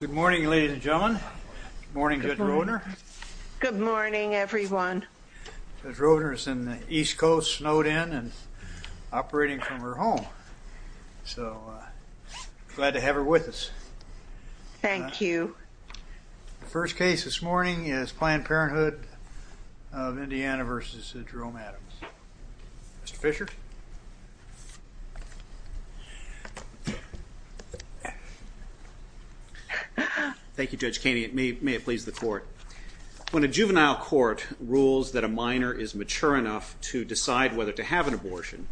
Good morning ladies and gentlemen. Good morning Judge Roedner. Good morning everyone. Judge Roedner is in the East Coast snowed in and operating from her home. So glad to have her with us. Thank you. The first case this morning is Planned Parenthood of Indiana v. Jerome Adams. Mr. Fisher. Thank you Judge Caney. May it please the court. When a juvenile court rules that a minor is mature enough to decide whether to have an abortion,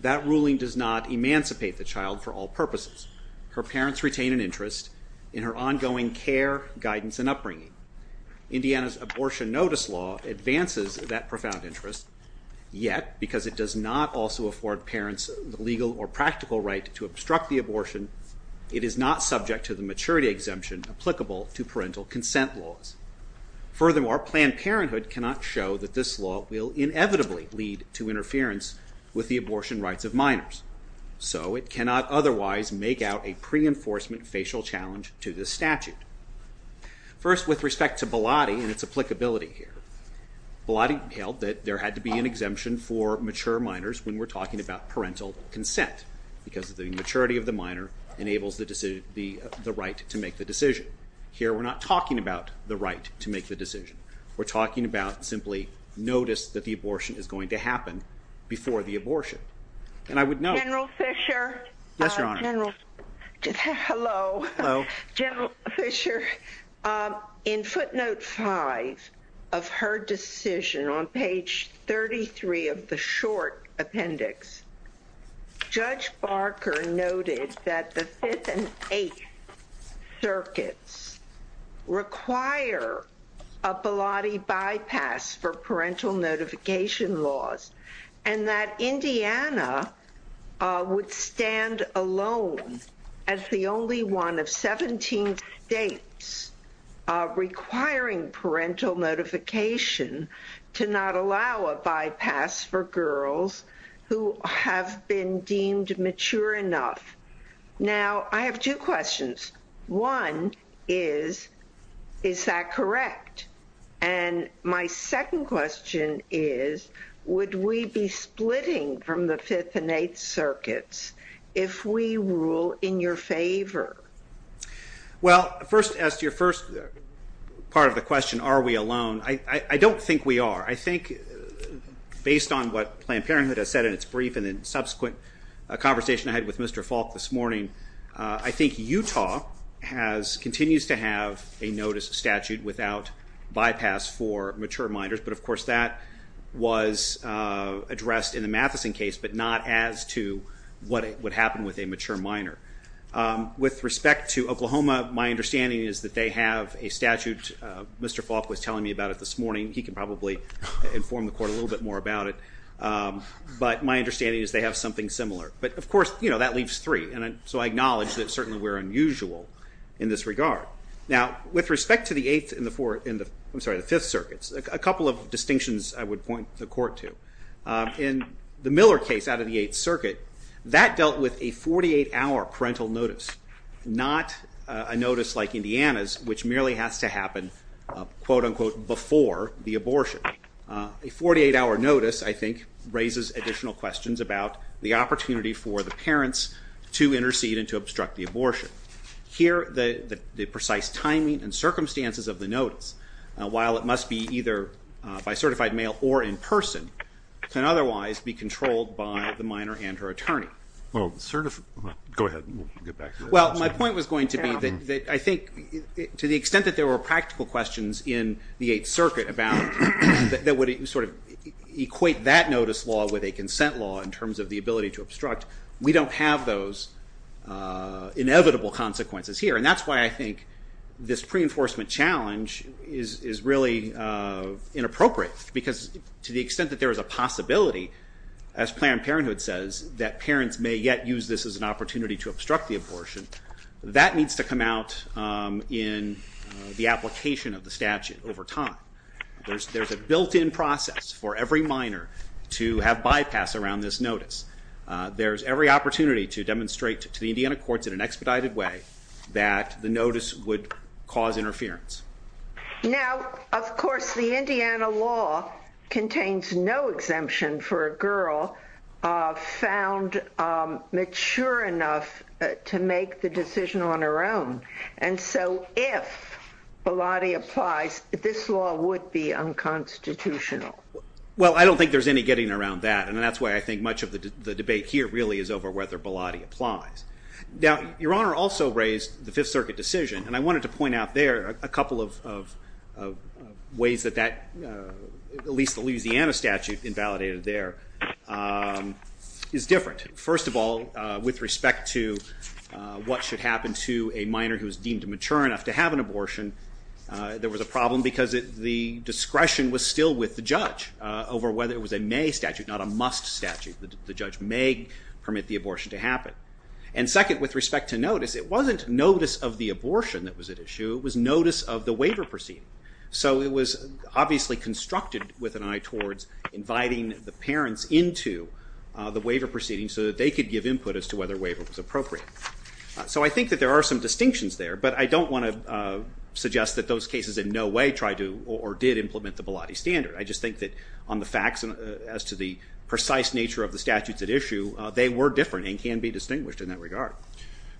that ruling does not emancipate the child for all purposes. Her parents retain an interest in her ongoing care, guidance, and upbringing. Indiana's abortion notice law advances that profound interest. Yet, because it does not also afford parents the legal or practical right to obstruct the abortion, it is not subject to the maturity exemption applicable to parental consent laws. Furthermore, Planned Parenthood cannot show that this law will inevitably lead to interference with the abortion rights of minors. So it cannot otherwise make out a pre-enforcement facial challenge to this statute. First, with respect to Bilotti and its applicability here, Bilotti held that there had to be an exemption for mature minors when we're talking about parental consent because the maturity of the minor enables the right to make the decision. Here we're not talking about the right to make the decision. We're talking about simply notice that the abortion is going to happen before the abortion. General Fischer, in footnote 5 of her decision on page 33 of the short appendix, Judge Barker noted that the 5th and 8th circuits require a Bilotti bypass for parental notification laws and that Indiana would stand alone as the only one of 17 states requiring parental notification to not allow a bypass for girls who have been deemed mature enough. Now, I have two questions. One is, is that correct? And my second question is, would we be splitting from the 5th and 8th circuits if we rule in your favor? Well, first, as to your first part of the question, are we alone, I don't think we are. I think based on what Planned Parenthood has said in its brief and the subsequent conversation I had with Mr. Falk this morning, I think Utah continues to have a notice statute without bypass for mature minors. But of course that was addressed in the Matheson case, but not as to what would happen with a mature minor. With respect to Oklahoma, my understanding is that they have a statute, Mr. Falk was telling me about it this morning, he can probably inform the court a little bit more about it, but my understanding is they have something similar. But of course, that leaves three, so I acknowledge that certainly we are unusual in this regard. Now, with respect to the 5th circuits, a couple of distinctions I would point the court to. In the Miller case out of the 8th circuit, that dealt with a 48-hour parental notice, not a notice like Indiana's which merely has to happen, quote-unquote, before the abortion. A 48-hour notice, I think, raises additional questions about the opportunity for the parents to intercede and to obstruct the abortion. Here, the precise timing and circumstances of the notice, while it must be either by certified male or in person, can otherwise be controlled by the minor and her attorney. Well, my point was going to be that to the extent that there were practical questions in the 8th circuit that would equate that notice law with a consent law in terms of the ability to obstruct, we don't have those inevitable consequences here. And that's why I think this pre-enforcement challenge is really inappropriate, because to the extent that there is a possibility, as Planned Parenthood says, that parents may yet use this as an opportunity to obstruct the abortion, that needs to come out in the application of the statute over time. There's a built-in process for every minor to have bypass around this notice. There's every opportunity to demonstrate to the Indiana courts in an expedited way that the notice would cause interference. Now, of course, the Indiana law contains no exemption for a girl found mature enough to make the decision on her own. And so if Bilotti applies, this law would be unconstitutional. Well, I don't think there's any getting around that, and that's why I think much of the debate here really is over whether Bilotti applies. Now, Your Honor also raised the 5th Circuit decision, and I wanted to point out there a couple of ways that that, at least the Louisiana statute invalidated there, is different. First of all, with respect to what should happen to a minor who is deemed mature enough to have an abortion, there was a problem because the discretion was still with the judge over whether it was a may statute, not a must statute. The judge may permit the abortion to happen. And second, with respect to notice, it wasn't notice of the abortion that was at issue. It was notice of the waiver proceeding. So it was obviously constructed with an eye towards inviting the parents into the waiver proceeding so that they could give input as to whether waiver was appropriate. So I think that there are some distinctions there, but I don't want to suggest that those cases in no way tried to or did implement the Bilotti standard. I just think that on the facts as to the precise nature of the statutes at issue, they were different and can be distinguished in that regard.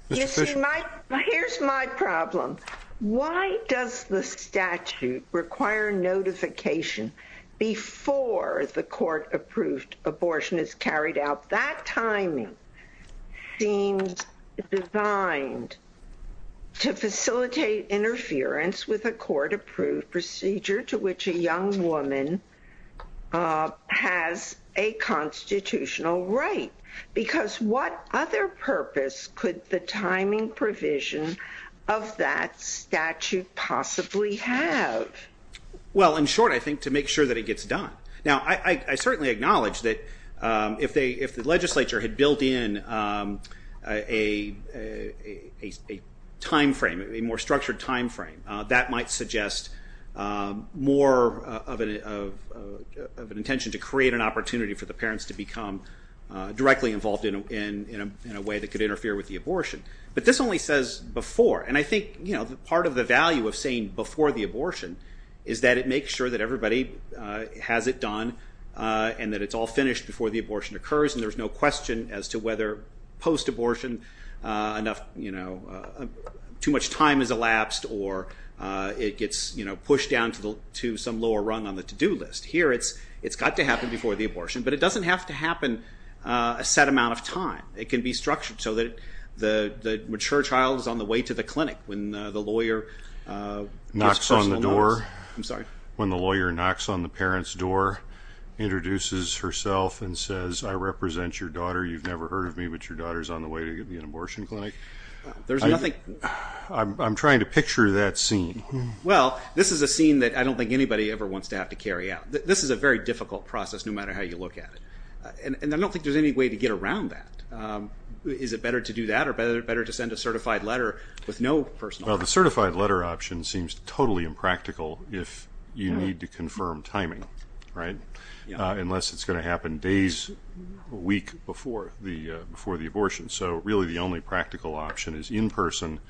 Here's my problem. Why does the statute require notification before the court approved abortion is carried out? That timing seems designed to facilitate interference with a court-approved procedure to which a young woman has a constitutional right. Because what other purpose could the timing provision of that statute possibly have? Well, in short, I think to make sure that it gets done. Now, I certainly acknowledge that if the legislature had built in a time frame, a more structured time frame, that might suggest more of an intention to create an opportunity for the parents to become directly involved in a way that could interfere with the abortion. But this only says before, and I think part of the value of saying before the abortion is that it makes sure that everybody has it done and that it's all finished before the abortion occurs and there's no question as to whether post-abortion too much time has elapsed or it gets pushed down to some lower rung on the to-do list. Here, it's got to happen before the abortion, but it doesn't have to happen a set amount of time. It can be structured so that the mature child is on the way to the clinic when the lawyer knocks on the parents' door, introduces herself, and says, I represent your daughter. You've never heard of me, but your daughter's on the way to the abortion clinic. I'm trying to picture that scene. Well, this is a scene that I don't think anybody ever wants to have to carry out. This is a very difficult process, no matter how you look at it. And I don't think there's any way to get around that. Is it better to do that or better to send a certified letter with no personnel? Well, the certified letter option seems totally impractical if you need to confirm timing, right, unless it's going to happen days, a week before the abortion. So really the only practical option is in person,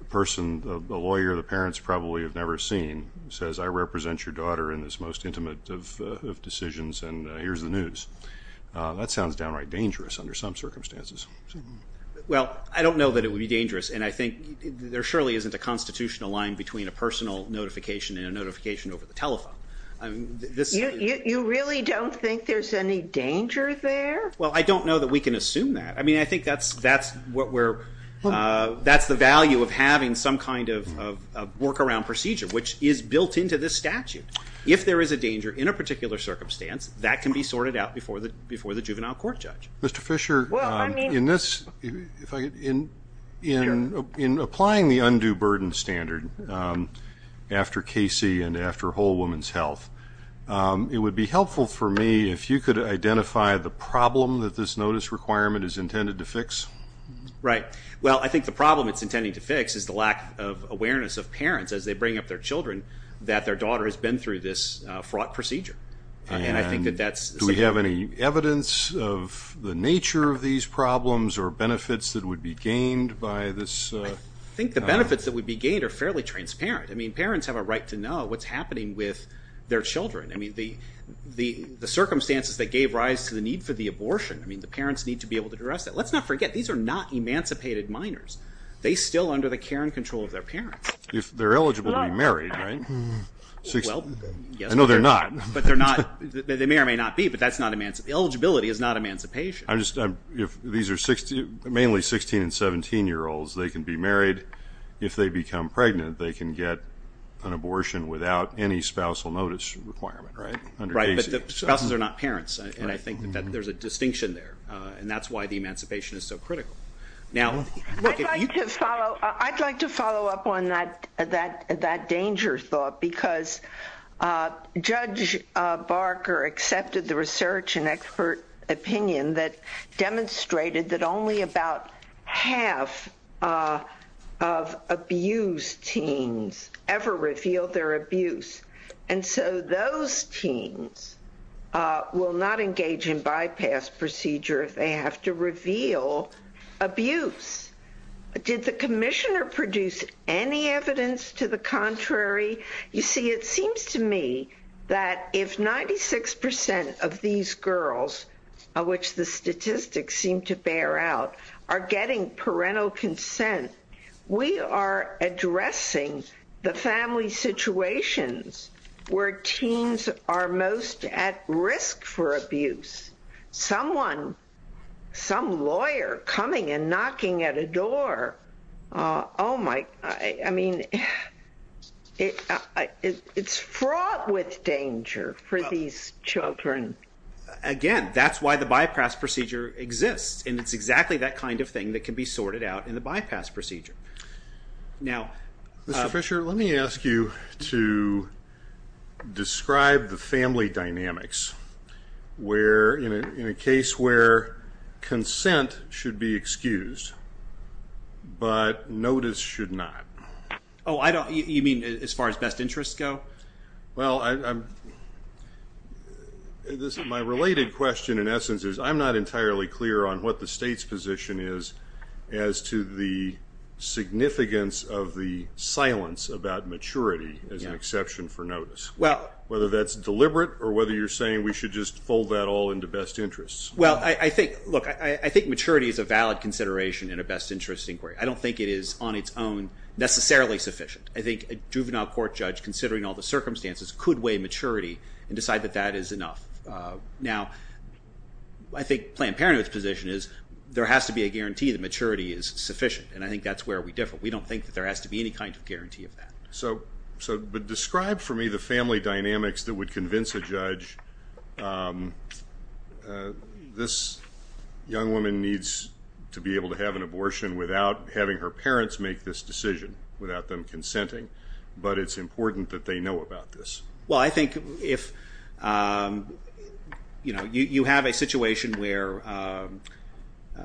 the person, the lawyer, the parents probably have never seen, says, I represent your daughter in this most intimate of decisions, and here's the news. That sounds downright dangerous under some circumstances. Well, I don't know that it would be dangerous, and I think there surely isn't a constitutional line between a personal notification and a notification over the telephone. You really don't think there's any danger there? Well, I don't know that we can assume that. I mean, I think that's the value of having some kind of workaround procedure, which is built into this statute. If there is a danger in a particular circumstance, that can be sorted out before the juvenile court judge. Mr. Fisher, in applying the undue burden standard after Casey and after Whole Woman's Health, it would be helpful for me if you could identify the problem that this notice requirement is intended to fix. Right. Well, I think the problem it's intending to fix is the lack of awareness of parents as they bring up their children that their daughter has been through this fraught procedure. And do we have any evidence of the nature of these problems or benefits that would be gained by this? I think the benefits that would be gained are fairly transparent. I mean, parents have a right to know what's happening with their children. I mean, the circumstances that gave rise to the need for the abortion, I mean, the parents need to be able to address that. Let's not forget, these are not emancipated minors. They're still under the care and control of their parents. If they're eligible to be married, right? Well, yes. I know they're not. But they're not. They may or may not be, but that's not emancipation. Eligibility is not emancipation. These are mainly 16- and 17-year-olds. They can be married. If they become pregnant, they can get an abortion without any spousal notice requirement, right? Right, but spouses are not parents. And I think that there's a distinction there. I'd like to follow up on that danger thought because Judge Barker accepted the research and expert opinion that demonstrated that only about half of abused teens ever revealed their abuse. And so those teens will not engage in bypass procedure if they have to reveal abuse. Did the commissioner produce any evidence to the contrary? You see, it seems to me that if 96% of these girls, of which the statistics seem to bear out, are getting parental consent, we are addressing the family situations where teens are most at risk for abuse. Someone, some lawyer, coming and knocking at a door. Oh, my. I mean, it's fraught with danger for these children. Again, that's why the bypass procedure exists, and it's exactly that kind of thing that can be sorted out in the bypass procedure. Mr. Fisher, let me ask you to describe the family dynamics in a case where consent should be excused, but notice should not. Oh, you mean as far as best interests go? Well, my related question, in essence, is I'm not entirely clear on what the state's position is as to the significance of the silence about maturity as an exception for notice, whether that's deliberate or whether you're saying we should just fold that all into best interests. Well, look, I think maturity is a valid consideration in a best interests inquiry. I don't think it is on its own necessarily sufficient. I think a juvenile court judge, considering all the circumstances, could weigh maturity and decide that that is enough. Now, I think Planned Parenthood's position is there has to be a guarantee that maturity is sufficient, and I think that's where we differ. We don't think that there has to be any kind of guarantee of that. So describe for me the family dynamics that would convince a judge this young woman needs to be able to have an abortion without having her parents make this decision, without them consenting, but it's important that they know about this. Well, I think if you have a situation where –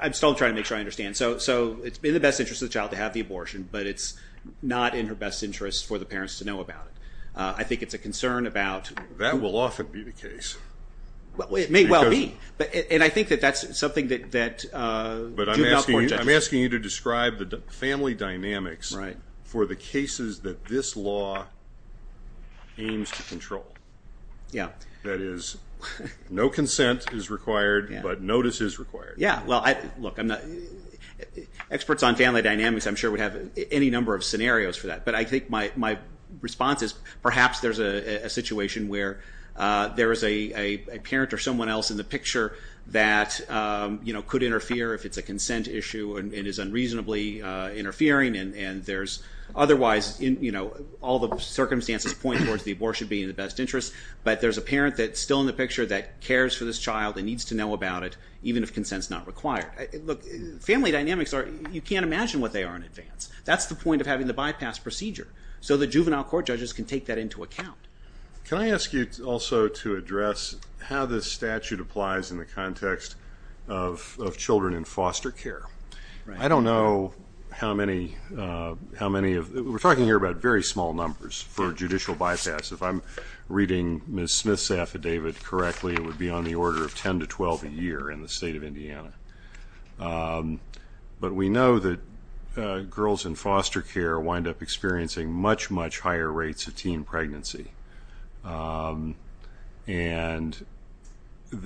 I'm still trying to make sure I understand. So it's in the best interest of the child to have the abortion, but it's not in her best interest for the parents to know about it. I think it's a concern about – That will often be the case. It may well be, and I think that that's something that juvenile court judges – Yeah. That is, no consent is required, but notice is required. Yeah, well, look, experts on family dynamics, I'm sure, would have any number of scenarios for that. But I think my response is perhaps there's a situation where there is a parent or someone else in the picture that could interfere if it's a consent issue and is unreasonably interfering, and there's otherwise – all the circumstances point towards the abortion being in the best interest, but there's a parent that's still in the picture that cares for this child and needs to know about it, even if consent's not required. Look, family dynamics are – you can't imagine what they are in advance. That's the point of having the bypass procedure, so the juvenile court judges can take that into account. Can I ask you also to address how this statute applies in the context of children in foster care? Right. I don't know how many of – we're talking here about very small numbers for judicial bypass. If I'm reading Ms. Smith's affidavit correctly, it would be on the order of 10 to 12 a year in the state of Indiana. But we know that girls in foster care wind up experiencing much, much higher rates of teen pregnancy, and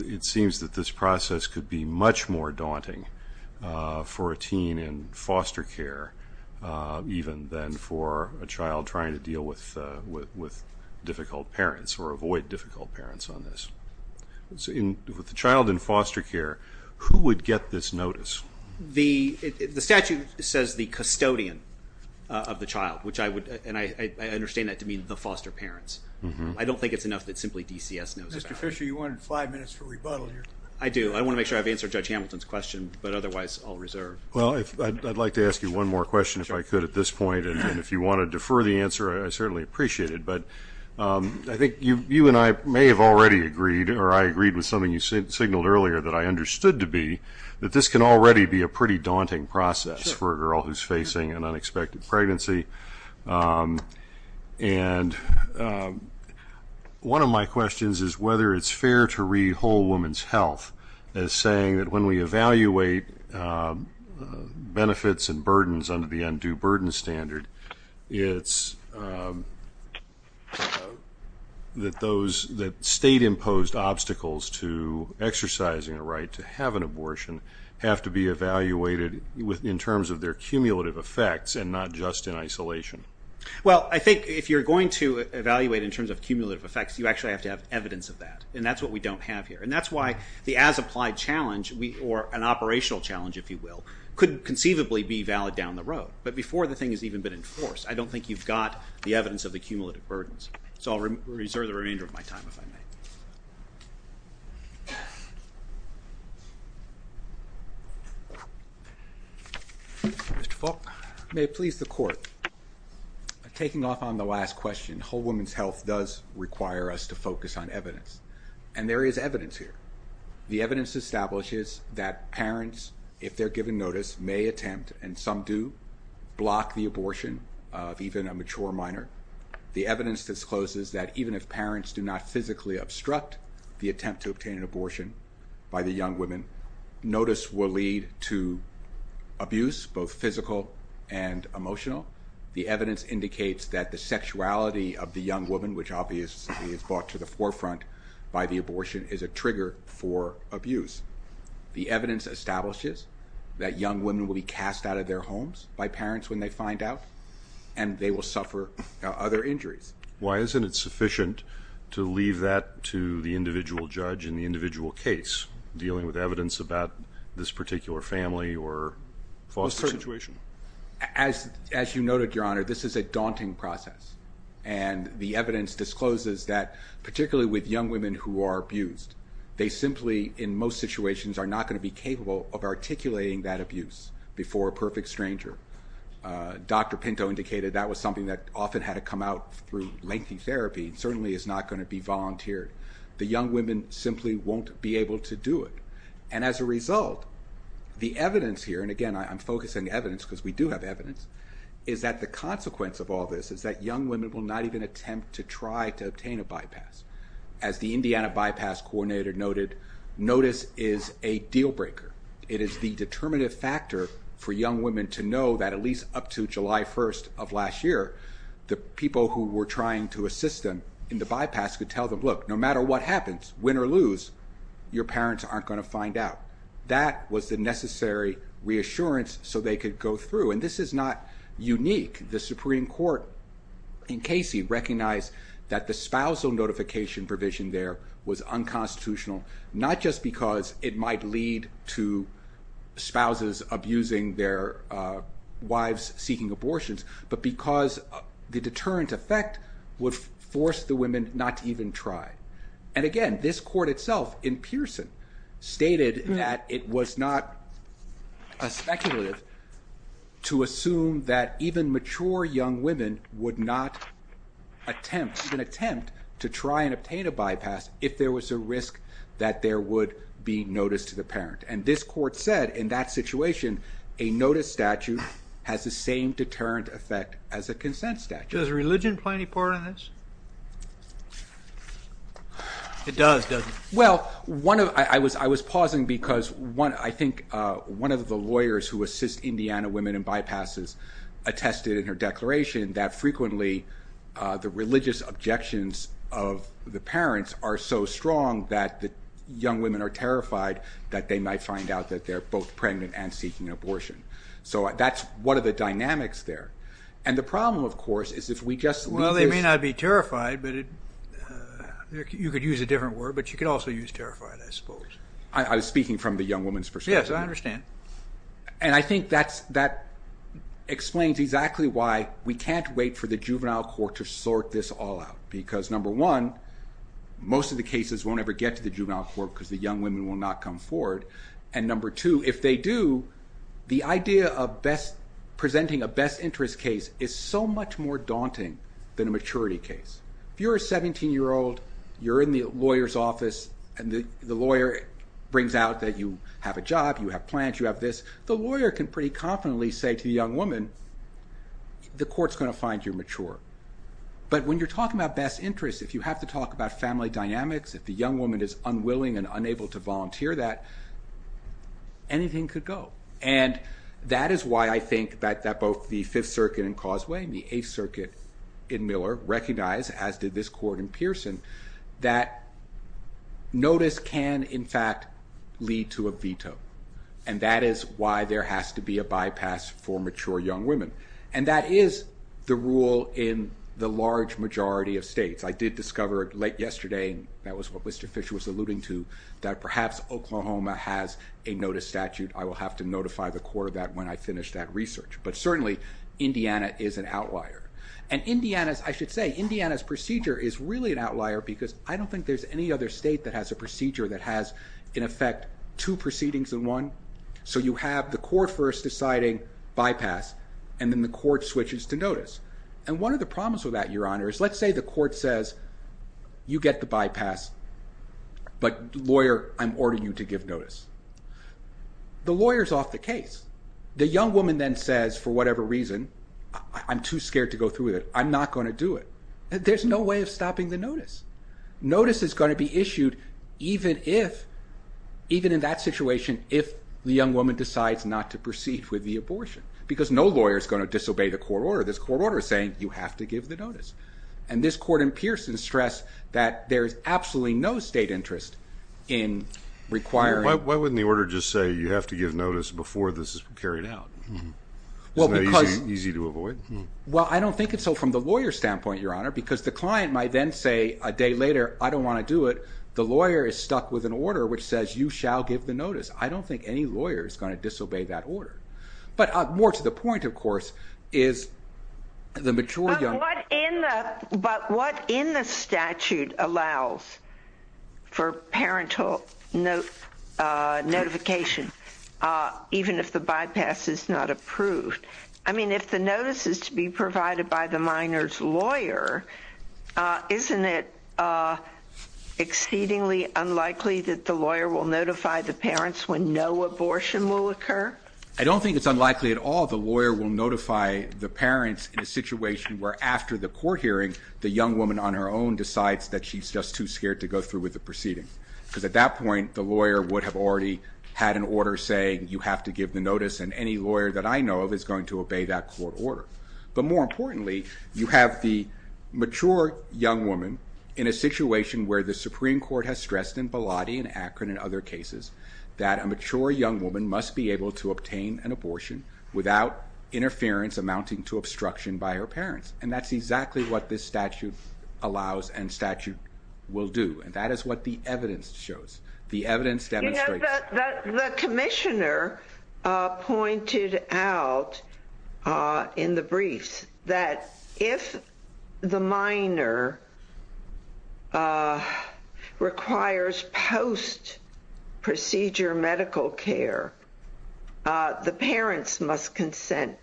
it seems that this process could be much more daunting for a teen in foster care even than for a child trying to deal with difficult parents or avoid difficult parents on this. With a child in foster care, who would get this notice? The statute says the custodian of the child, and I understand that to mean the foster parents. I don't think it's enough that simply DCS knows about it. Mr. Fisher, you wanted five minutes for rebuttal here. I do. I want to make sure I've answered Judge Hamilton's question, but otherwise I'll reserve. Well, I'd like to ask you one more question if I could at this point, and if you want to defer the answer, I certainly appreciate it. But I think you and I may have already agreed, or I agreed with something you signaled earlier that I understood to be, that this can already be a pretty daunting process for a girl who's facing an unexpected pregnancy. And one of my questions is whether it's fair to read Whole Woman's Health as saying that when we evaluate benefits and burdens under the undue burden standard, it's that state-imposed obstacles to exercising a right to have an abortion have to be evaluated in terms of their cumulative effects and not just in isolation. Well, I think if you're going to evaluate in terms of cumulative effects, you actually have to have evidence of that, and that's what we don't have here. And that's why the as-applied challenge, or an operational challenge, if you will, could conceivably be valid down the road. But before the thing has even been enforced, I don't think you've got the evidence of the cumulative burdens. So I'll reserve the remainder of my time if I may. Mr. Faulk, may it please the Court, taking off on the last question, Whole Woman's Health does require us to focus on evidence, and there is evidence here. The evidence establishes that parents, if they're given notice, may attempt, and some do, block the abortion of even a mature minor. The evidence discloses that even if parents do not physically obstruct the attempt to obtain an abortion by the young women, notice will lead to abuse, both physical and emotional. The evidence indicates that the sexuality of the young woman, which obviously is brought to the forefront by the abortion, is a trigger for abuse. The evidence establishes that young women will be cast out of their homes by parents when they find out, and they will suffer other injuries. Why isn't it sufficient to leave that to the individual judge in the individual case, dealing with evidence about this particular family or foster situation? As you noted, Your Honor, this is a daunting process, and the evidence discloses that, particularly with young women who are abused, they simply, in most situations, are not going to be capable of articulating that abuse before a perfect stranger. Dr. Pinto indicated that was something that often had to come out through lengthy therapy, and certainly is not going to be volunteered. The young women simply won't be able to do it. And as a result, the evidence here, and again, I'm focusing evidence because we do have evidence, is that the consequence of all this is that young women will not even attempt to try to obtain a bypass. As the Indiana Bypass Coordinator noted, notice is a deal breaker. It is the determinative factor for young women to know that at least up to July 1st of last year, the people who were trying to assist them in the bypass could tell them, look, no matter what happens, win or lose, your parents aren't going to find out. That was the necessary reassurance so they could go through. And this is not unique. The Supreme Court in Casey recognized that the spousal notification provision there was unconstitutional, not just because it might lead to spouses abusing their wives seeking abortions, but because the deterrent effect would force the women not to even try. And again, this court itself in Pearson stated that it was not speculative to assume that even mature young women would not attempt to try and obtain a bypass if there was a risk that there would be notice to the parent. And this court said in that situation, a notice statute has the same deterrent effect as a consent statute. Does religion play any part in this? It does, doesn't it? Well, I was pausing because I think one of the lawyers who assists Indiana women in bypasses attested in her declaration that frequently the religious objections of the parents are so strong that young women are terrified that they might find out that they're both pregnant and seeking an abortion. So that's one of the dynamics there. And the problem, of course, is if we just leave this... Well, they may not be terrified, but you could use a different word, but you could also use terrified, I suppose. I was speaking from the young woman's perspective. Yes, I understand. And I think that explains exactly why we can't wait for the juvenile court to sort this all out, because number one, most of the cases won't ever get to the juvenile court because the young women will not come forward, and number two, if they do, the idea of presenting a best interest case is so much more daunting than a maturity case. If you're a 17-year-old, you're in the lawyer's office, and the lawyer brings out that you have a job, you have plans, you have this, the lawyer can pretty confidently say to the young woman, the court's going to find you're mature. But when you're talking about best interests, if you have to talk about family dynamics, if the young woman is unwilling and unable to volunteer that, anything could go. And that is why I think that both the Fifth Circuit in Causeway and the Eighth Circuit in Miller recognize, as did this court in Pearson, that notice can, in fact, lead to a veto. And that is why there has to be a bypass for mature young women. And that is the rule in the large majority of states. I did discover late yesterday, and that was what Mr. Fisher was alluding to, that perhaps Oklahoma has a notice statute. I will have to notify the court of that when I finish that research. But certainly, Indiana is an outlier. And Indiana's, I should say, Indiana's procedure is really an outlier because I don't think there's any other state that has a procedure that has, in effect, two proceedings in one. So you have the court first deciding bypass, and then the court switches to notice. And one of the problems with that, Your Honor, is let's say the court says, you get the bypass, but, lawyer, I'm ordering you to give notice. The lawyer's off the case. The young woman then says, for whatever reason, I'm too scared to go through with it. I'm not going to do it. There's no way of stopping the notice. Notice is going to be issued even if, even in that situation, if the young woman decides not to proceed with the abortion because no lawyer is going to disobey the court order. This court order is saying, you have to give the notice. And this court in Pearson stressed that there is absolutely no state interest in requiring. Why wouldn't the order just say, you have to give notice before this is carried out? Isn't that easy to avoid? Well, I don't think it's so from the lawyer's standpoint, Your Honor, because the client might then say a day later, I don't want to do it. The lawyer is stuck with an order which says you shall give the notice. I don't think any lawyer is going to disobey that order. But more to the point, of course, is the mature young woman. But what in the statute allows for parental notification even if the bypass is not approved? I mean, if the notice is to be provided by the minor's lawyer, isn't it exceedingly unlikely that the lawyer will notify the parents when no abortion will occur? I don't think it's unlikely at all the lawyer will notify the parents in a situation where after the court hearing, the young woman on her own decides that she's just too scared to go through with the proceeding. Because at that point, the lawyer would have already had an order saying, you have to give the notice and any lawyer that I know of is going to obey that court order. But more importantly, you have the mature young woman in a situation where the Supreme Court has stressed in Bilotti and Akron and other cases that a mature young woman must be able to obtain an abortion without interference amounting to obstruction by her parents. And that's exactly what this statute allows and statute will do. And that is what the evidence shows. The evidence demonstrates. The commissioner pointed out in the briefs that if the minor requires post-procedure medical care, the parents must consent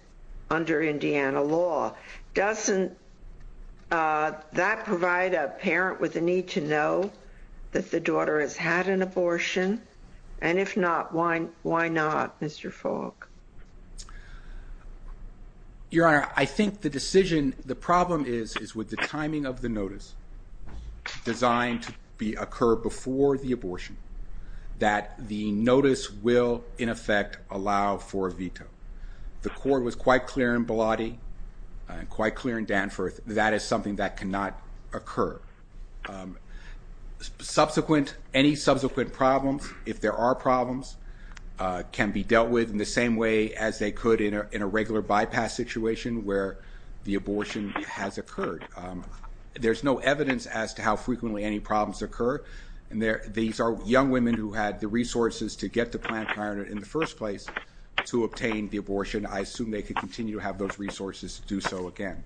under Indiana law. Doesn't that provide a parent with a need to know that the daughter has had an abortion? And if not, why not, Mr. Falk? Your Honor, I think the decision, the problem is, is with the timing of the notice designed to occur before the abortion, that the notice will in effect allow for a veto. The court was quite clear in Bilotti and quite clear in Danforth, that is something that cannot occur. Subsequent, any subsequent problems, if there are problems, can be dealt with in the same way as they could in a regular bypass situation where the abortion has occurred. There's no evidence as to how frequently any problems occur. These are young women who had the resources to get to Planned Parenthood in the first place to obtain the abortion. I assume they could continue to have those resources to do so again.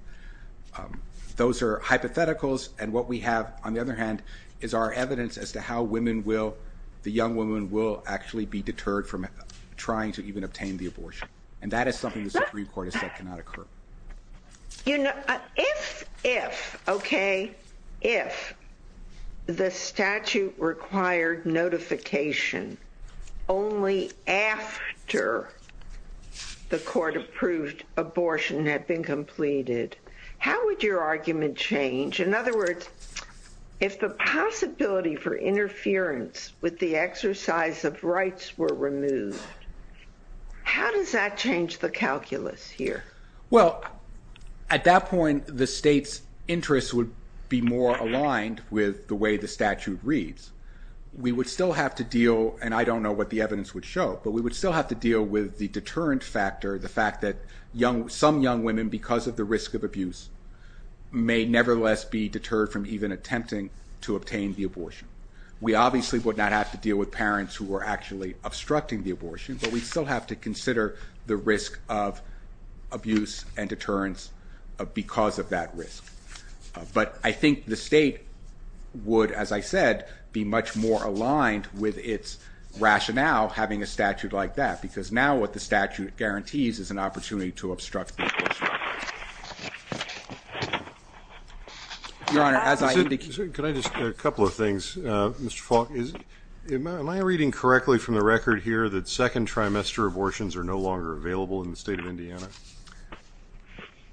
Those are hypotheticals, and what we have, on the other hand, is our evidence as to how women will, the young women will actually be deterred from trying to even obtain the abortion. And that is something the Supreme Court has said cannot occur. If the statute required notification only after the court approved abortion had been completed, how would your argument change? In other words, if the possibility for interference with the exercise of rights were removed, how does that change the calculus here? Well, at that point, the state's interests would be more aligned with the way the statute reads. We would still have to deal, and I don't know what the evidence would show, but we would still have to deal with the deterrent factor, the fact that some young women, because of the risk of abuse, may nevertheless be deterred from even attempting to obtain the abortion. We obviously would not have to deal with parents who were actually obstructing the abortion, but we'd still have to consider the risk of abuse and deterrence because of that risk. But I think the state would, as I said, be much more aligned with its rationale having a statute like that, because now what the statute guarantees is an opportunity to obstruct the abortion. Your Honor, as I indicated... Could I just, a couple of things. Mr. Falk, am I reading correctly from the record here that second trimester abortions are no longer available in the state of Indiana?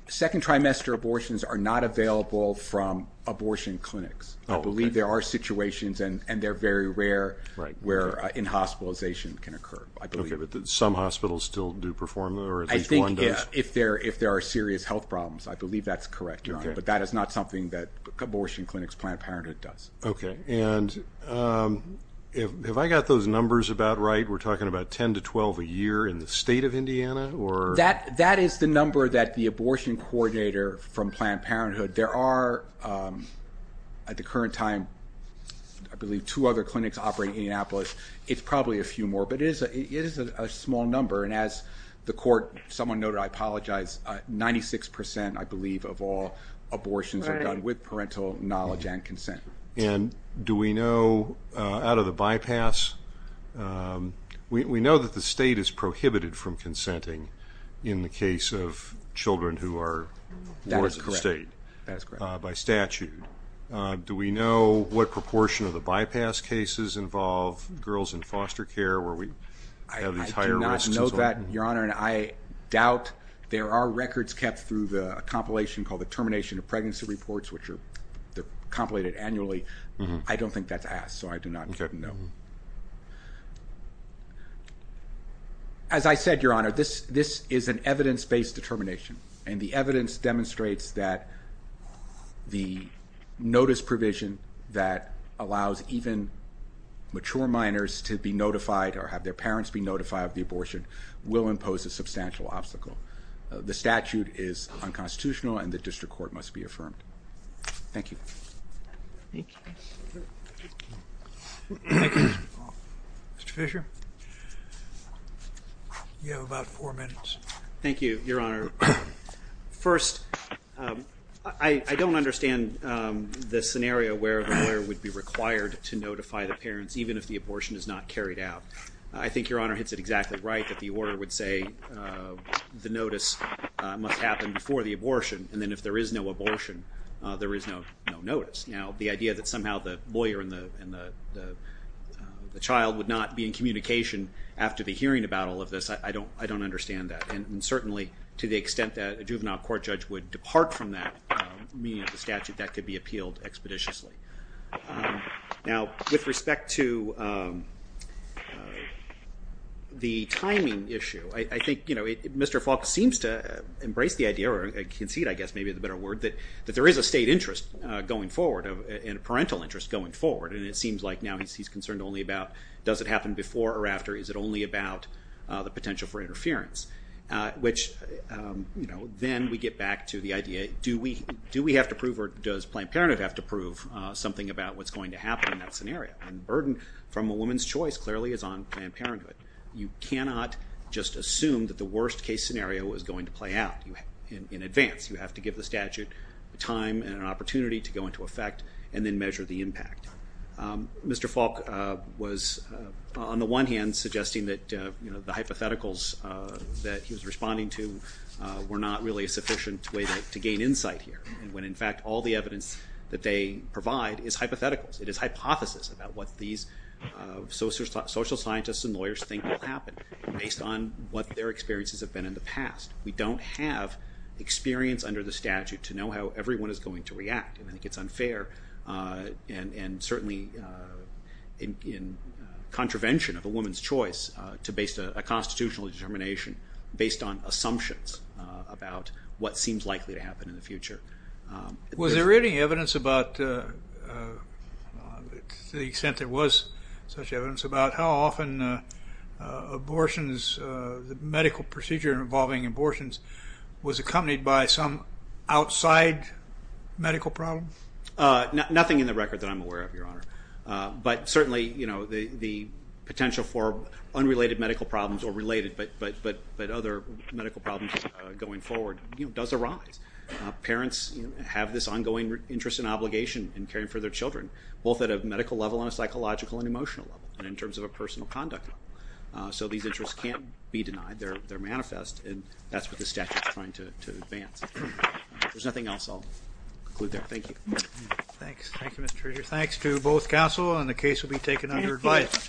Second trimester abortions are not available from abortion clinics. I believe there are situations, and they're very rare, where inhospitalization can occur, I believe. Okay, but some hospitals still do perform, or at least one does. I think if there are serious health problems, I believe that's correct, Your Honor, but that is not something that abortion clinics' Planned Parenthood does. Okay. And have I got those numbers about right? We're talking about 10 to 12 a year in the state of Indiana? That is the number that the abortion coordinator from Planned Parenthood, there are at the current time, I believe, two other clinics operating in Indianapolis. It's probably a few more, but it is a small number. And as the court, someone noted, I apologize, 96%, I believe, of all abortions are done with parental knowledge and consent. And do we know out of the bypass, we know that the state is prohibited from consenting in the case of children who are born in the state by statute. That is correct. Do we know what proportion of the bypass cases involve girls in foster care where we have these higher risks? I do not know that, Your Honor, and I doubt there are records kept through a compilation called the Termination of Pregnancy Reports, which are compilated annually. I don't think that's asked, so I do not know. As I said, Your Honor, this is an evidence-based determination, and the evidence demonstrates that the notice provision that allows even mature minors to be notified or have their parents be notified of the abortion will impose a substantial obstacle. The statute is unconstitutional, and the district court must be affirmed. Thank you. Mr. Fisher? You have about four minutes. Thank you, Your Honor. First, I don't understand the scenario where the lawyer would be required to notify the parents even if the abortion is not carried out. I think Your Honor hits it exactly right that the order would say the notice must happen before the abortion, and then if there is no abortion, there is no notice. Now, the idea that somehow the lawyer and the child would not be in communication after the hearing about all of this, I don't understand that, and certainly to the extent that a juvenile court judge would depart from that meaning of the statute, that could be appealed expeditiously. Now, with respect to the timing issue, I think Mr. Falk seems to embrace the idea, or concede, I guess, may be the better word, that there is a state interest going forward and a parental interest going forward, and it seems like now he's concerned only about does it happen before or after, is it only about the potential for interference, which then we get back to the idea, do we have to prove or does Planned Parenthood have to prove something about what's going to happen in that scenario? Burden from a woman's choice clearly is on Planned Parenthood. You cannot just assume that the worst-case scenario is going to play out in advance. You have to give the statute time and an opportunity to go into effect and then measure the impact. Mr. Falk was, on the one hand, suggesting that the hypotheticals that he was responding to were not really a sufficient way to gain insight here, when, in fact, all the evidence that they provide is hypotheticals. It is hypothesis about what these social scientists and lawyers think will happen based on what their experiences have been in the past. We don't have experience under the statute to know how everyone is going to react, and I think it's unfair, and certainly in contravention of a woman's choice to base a constitutional determination based on assumptions about what seems likely to happen in the future. Was there any evidence about, to the extent there was such evidence, about how often abortions, the medical procedure involving abortions, was accompanied by some outside medical problem? Nothing in the record that I'm aware of, Your Honor, but certainly the potential for unrelated medical problems, or related but other medical problems going forward does arise. Parents have this ongoing interest and obligation in caring for their children, both at a medical level and a psychological and emotional level and in terms of a personal conduct level. So these interests can't be denied. They're manifest, and that's what the statute is trying to advance. If there's nothing else, I'll conclude there. Thank you. Thanks. Thank you, Mr. Treasurer. Thanks to both counsel, and the case will be taken under advice.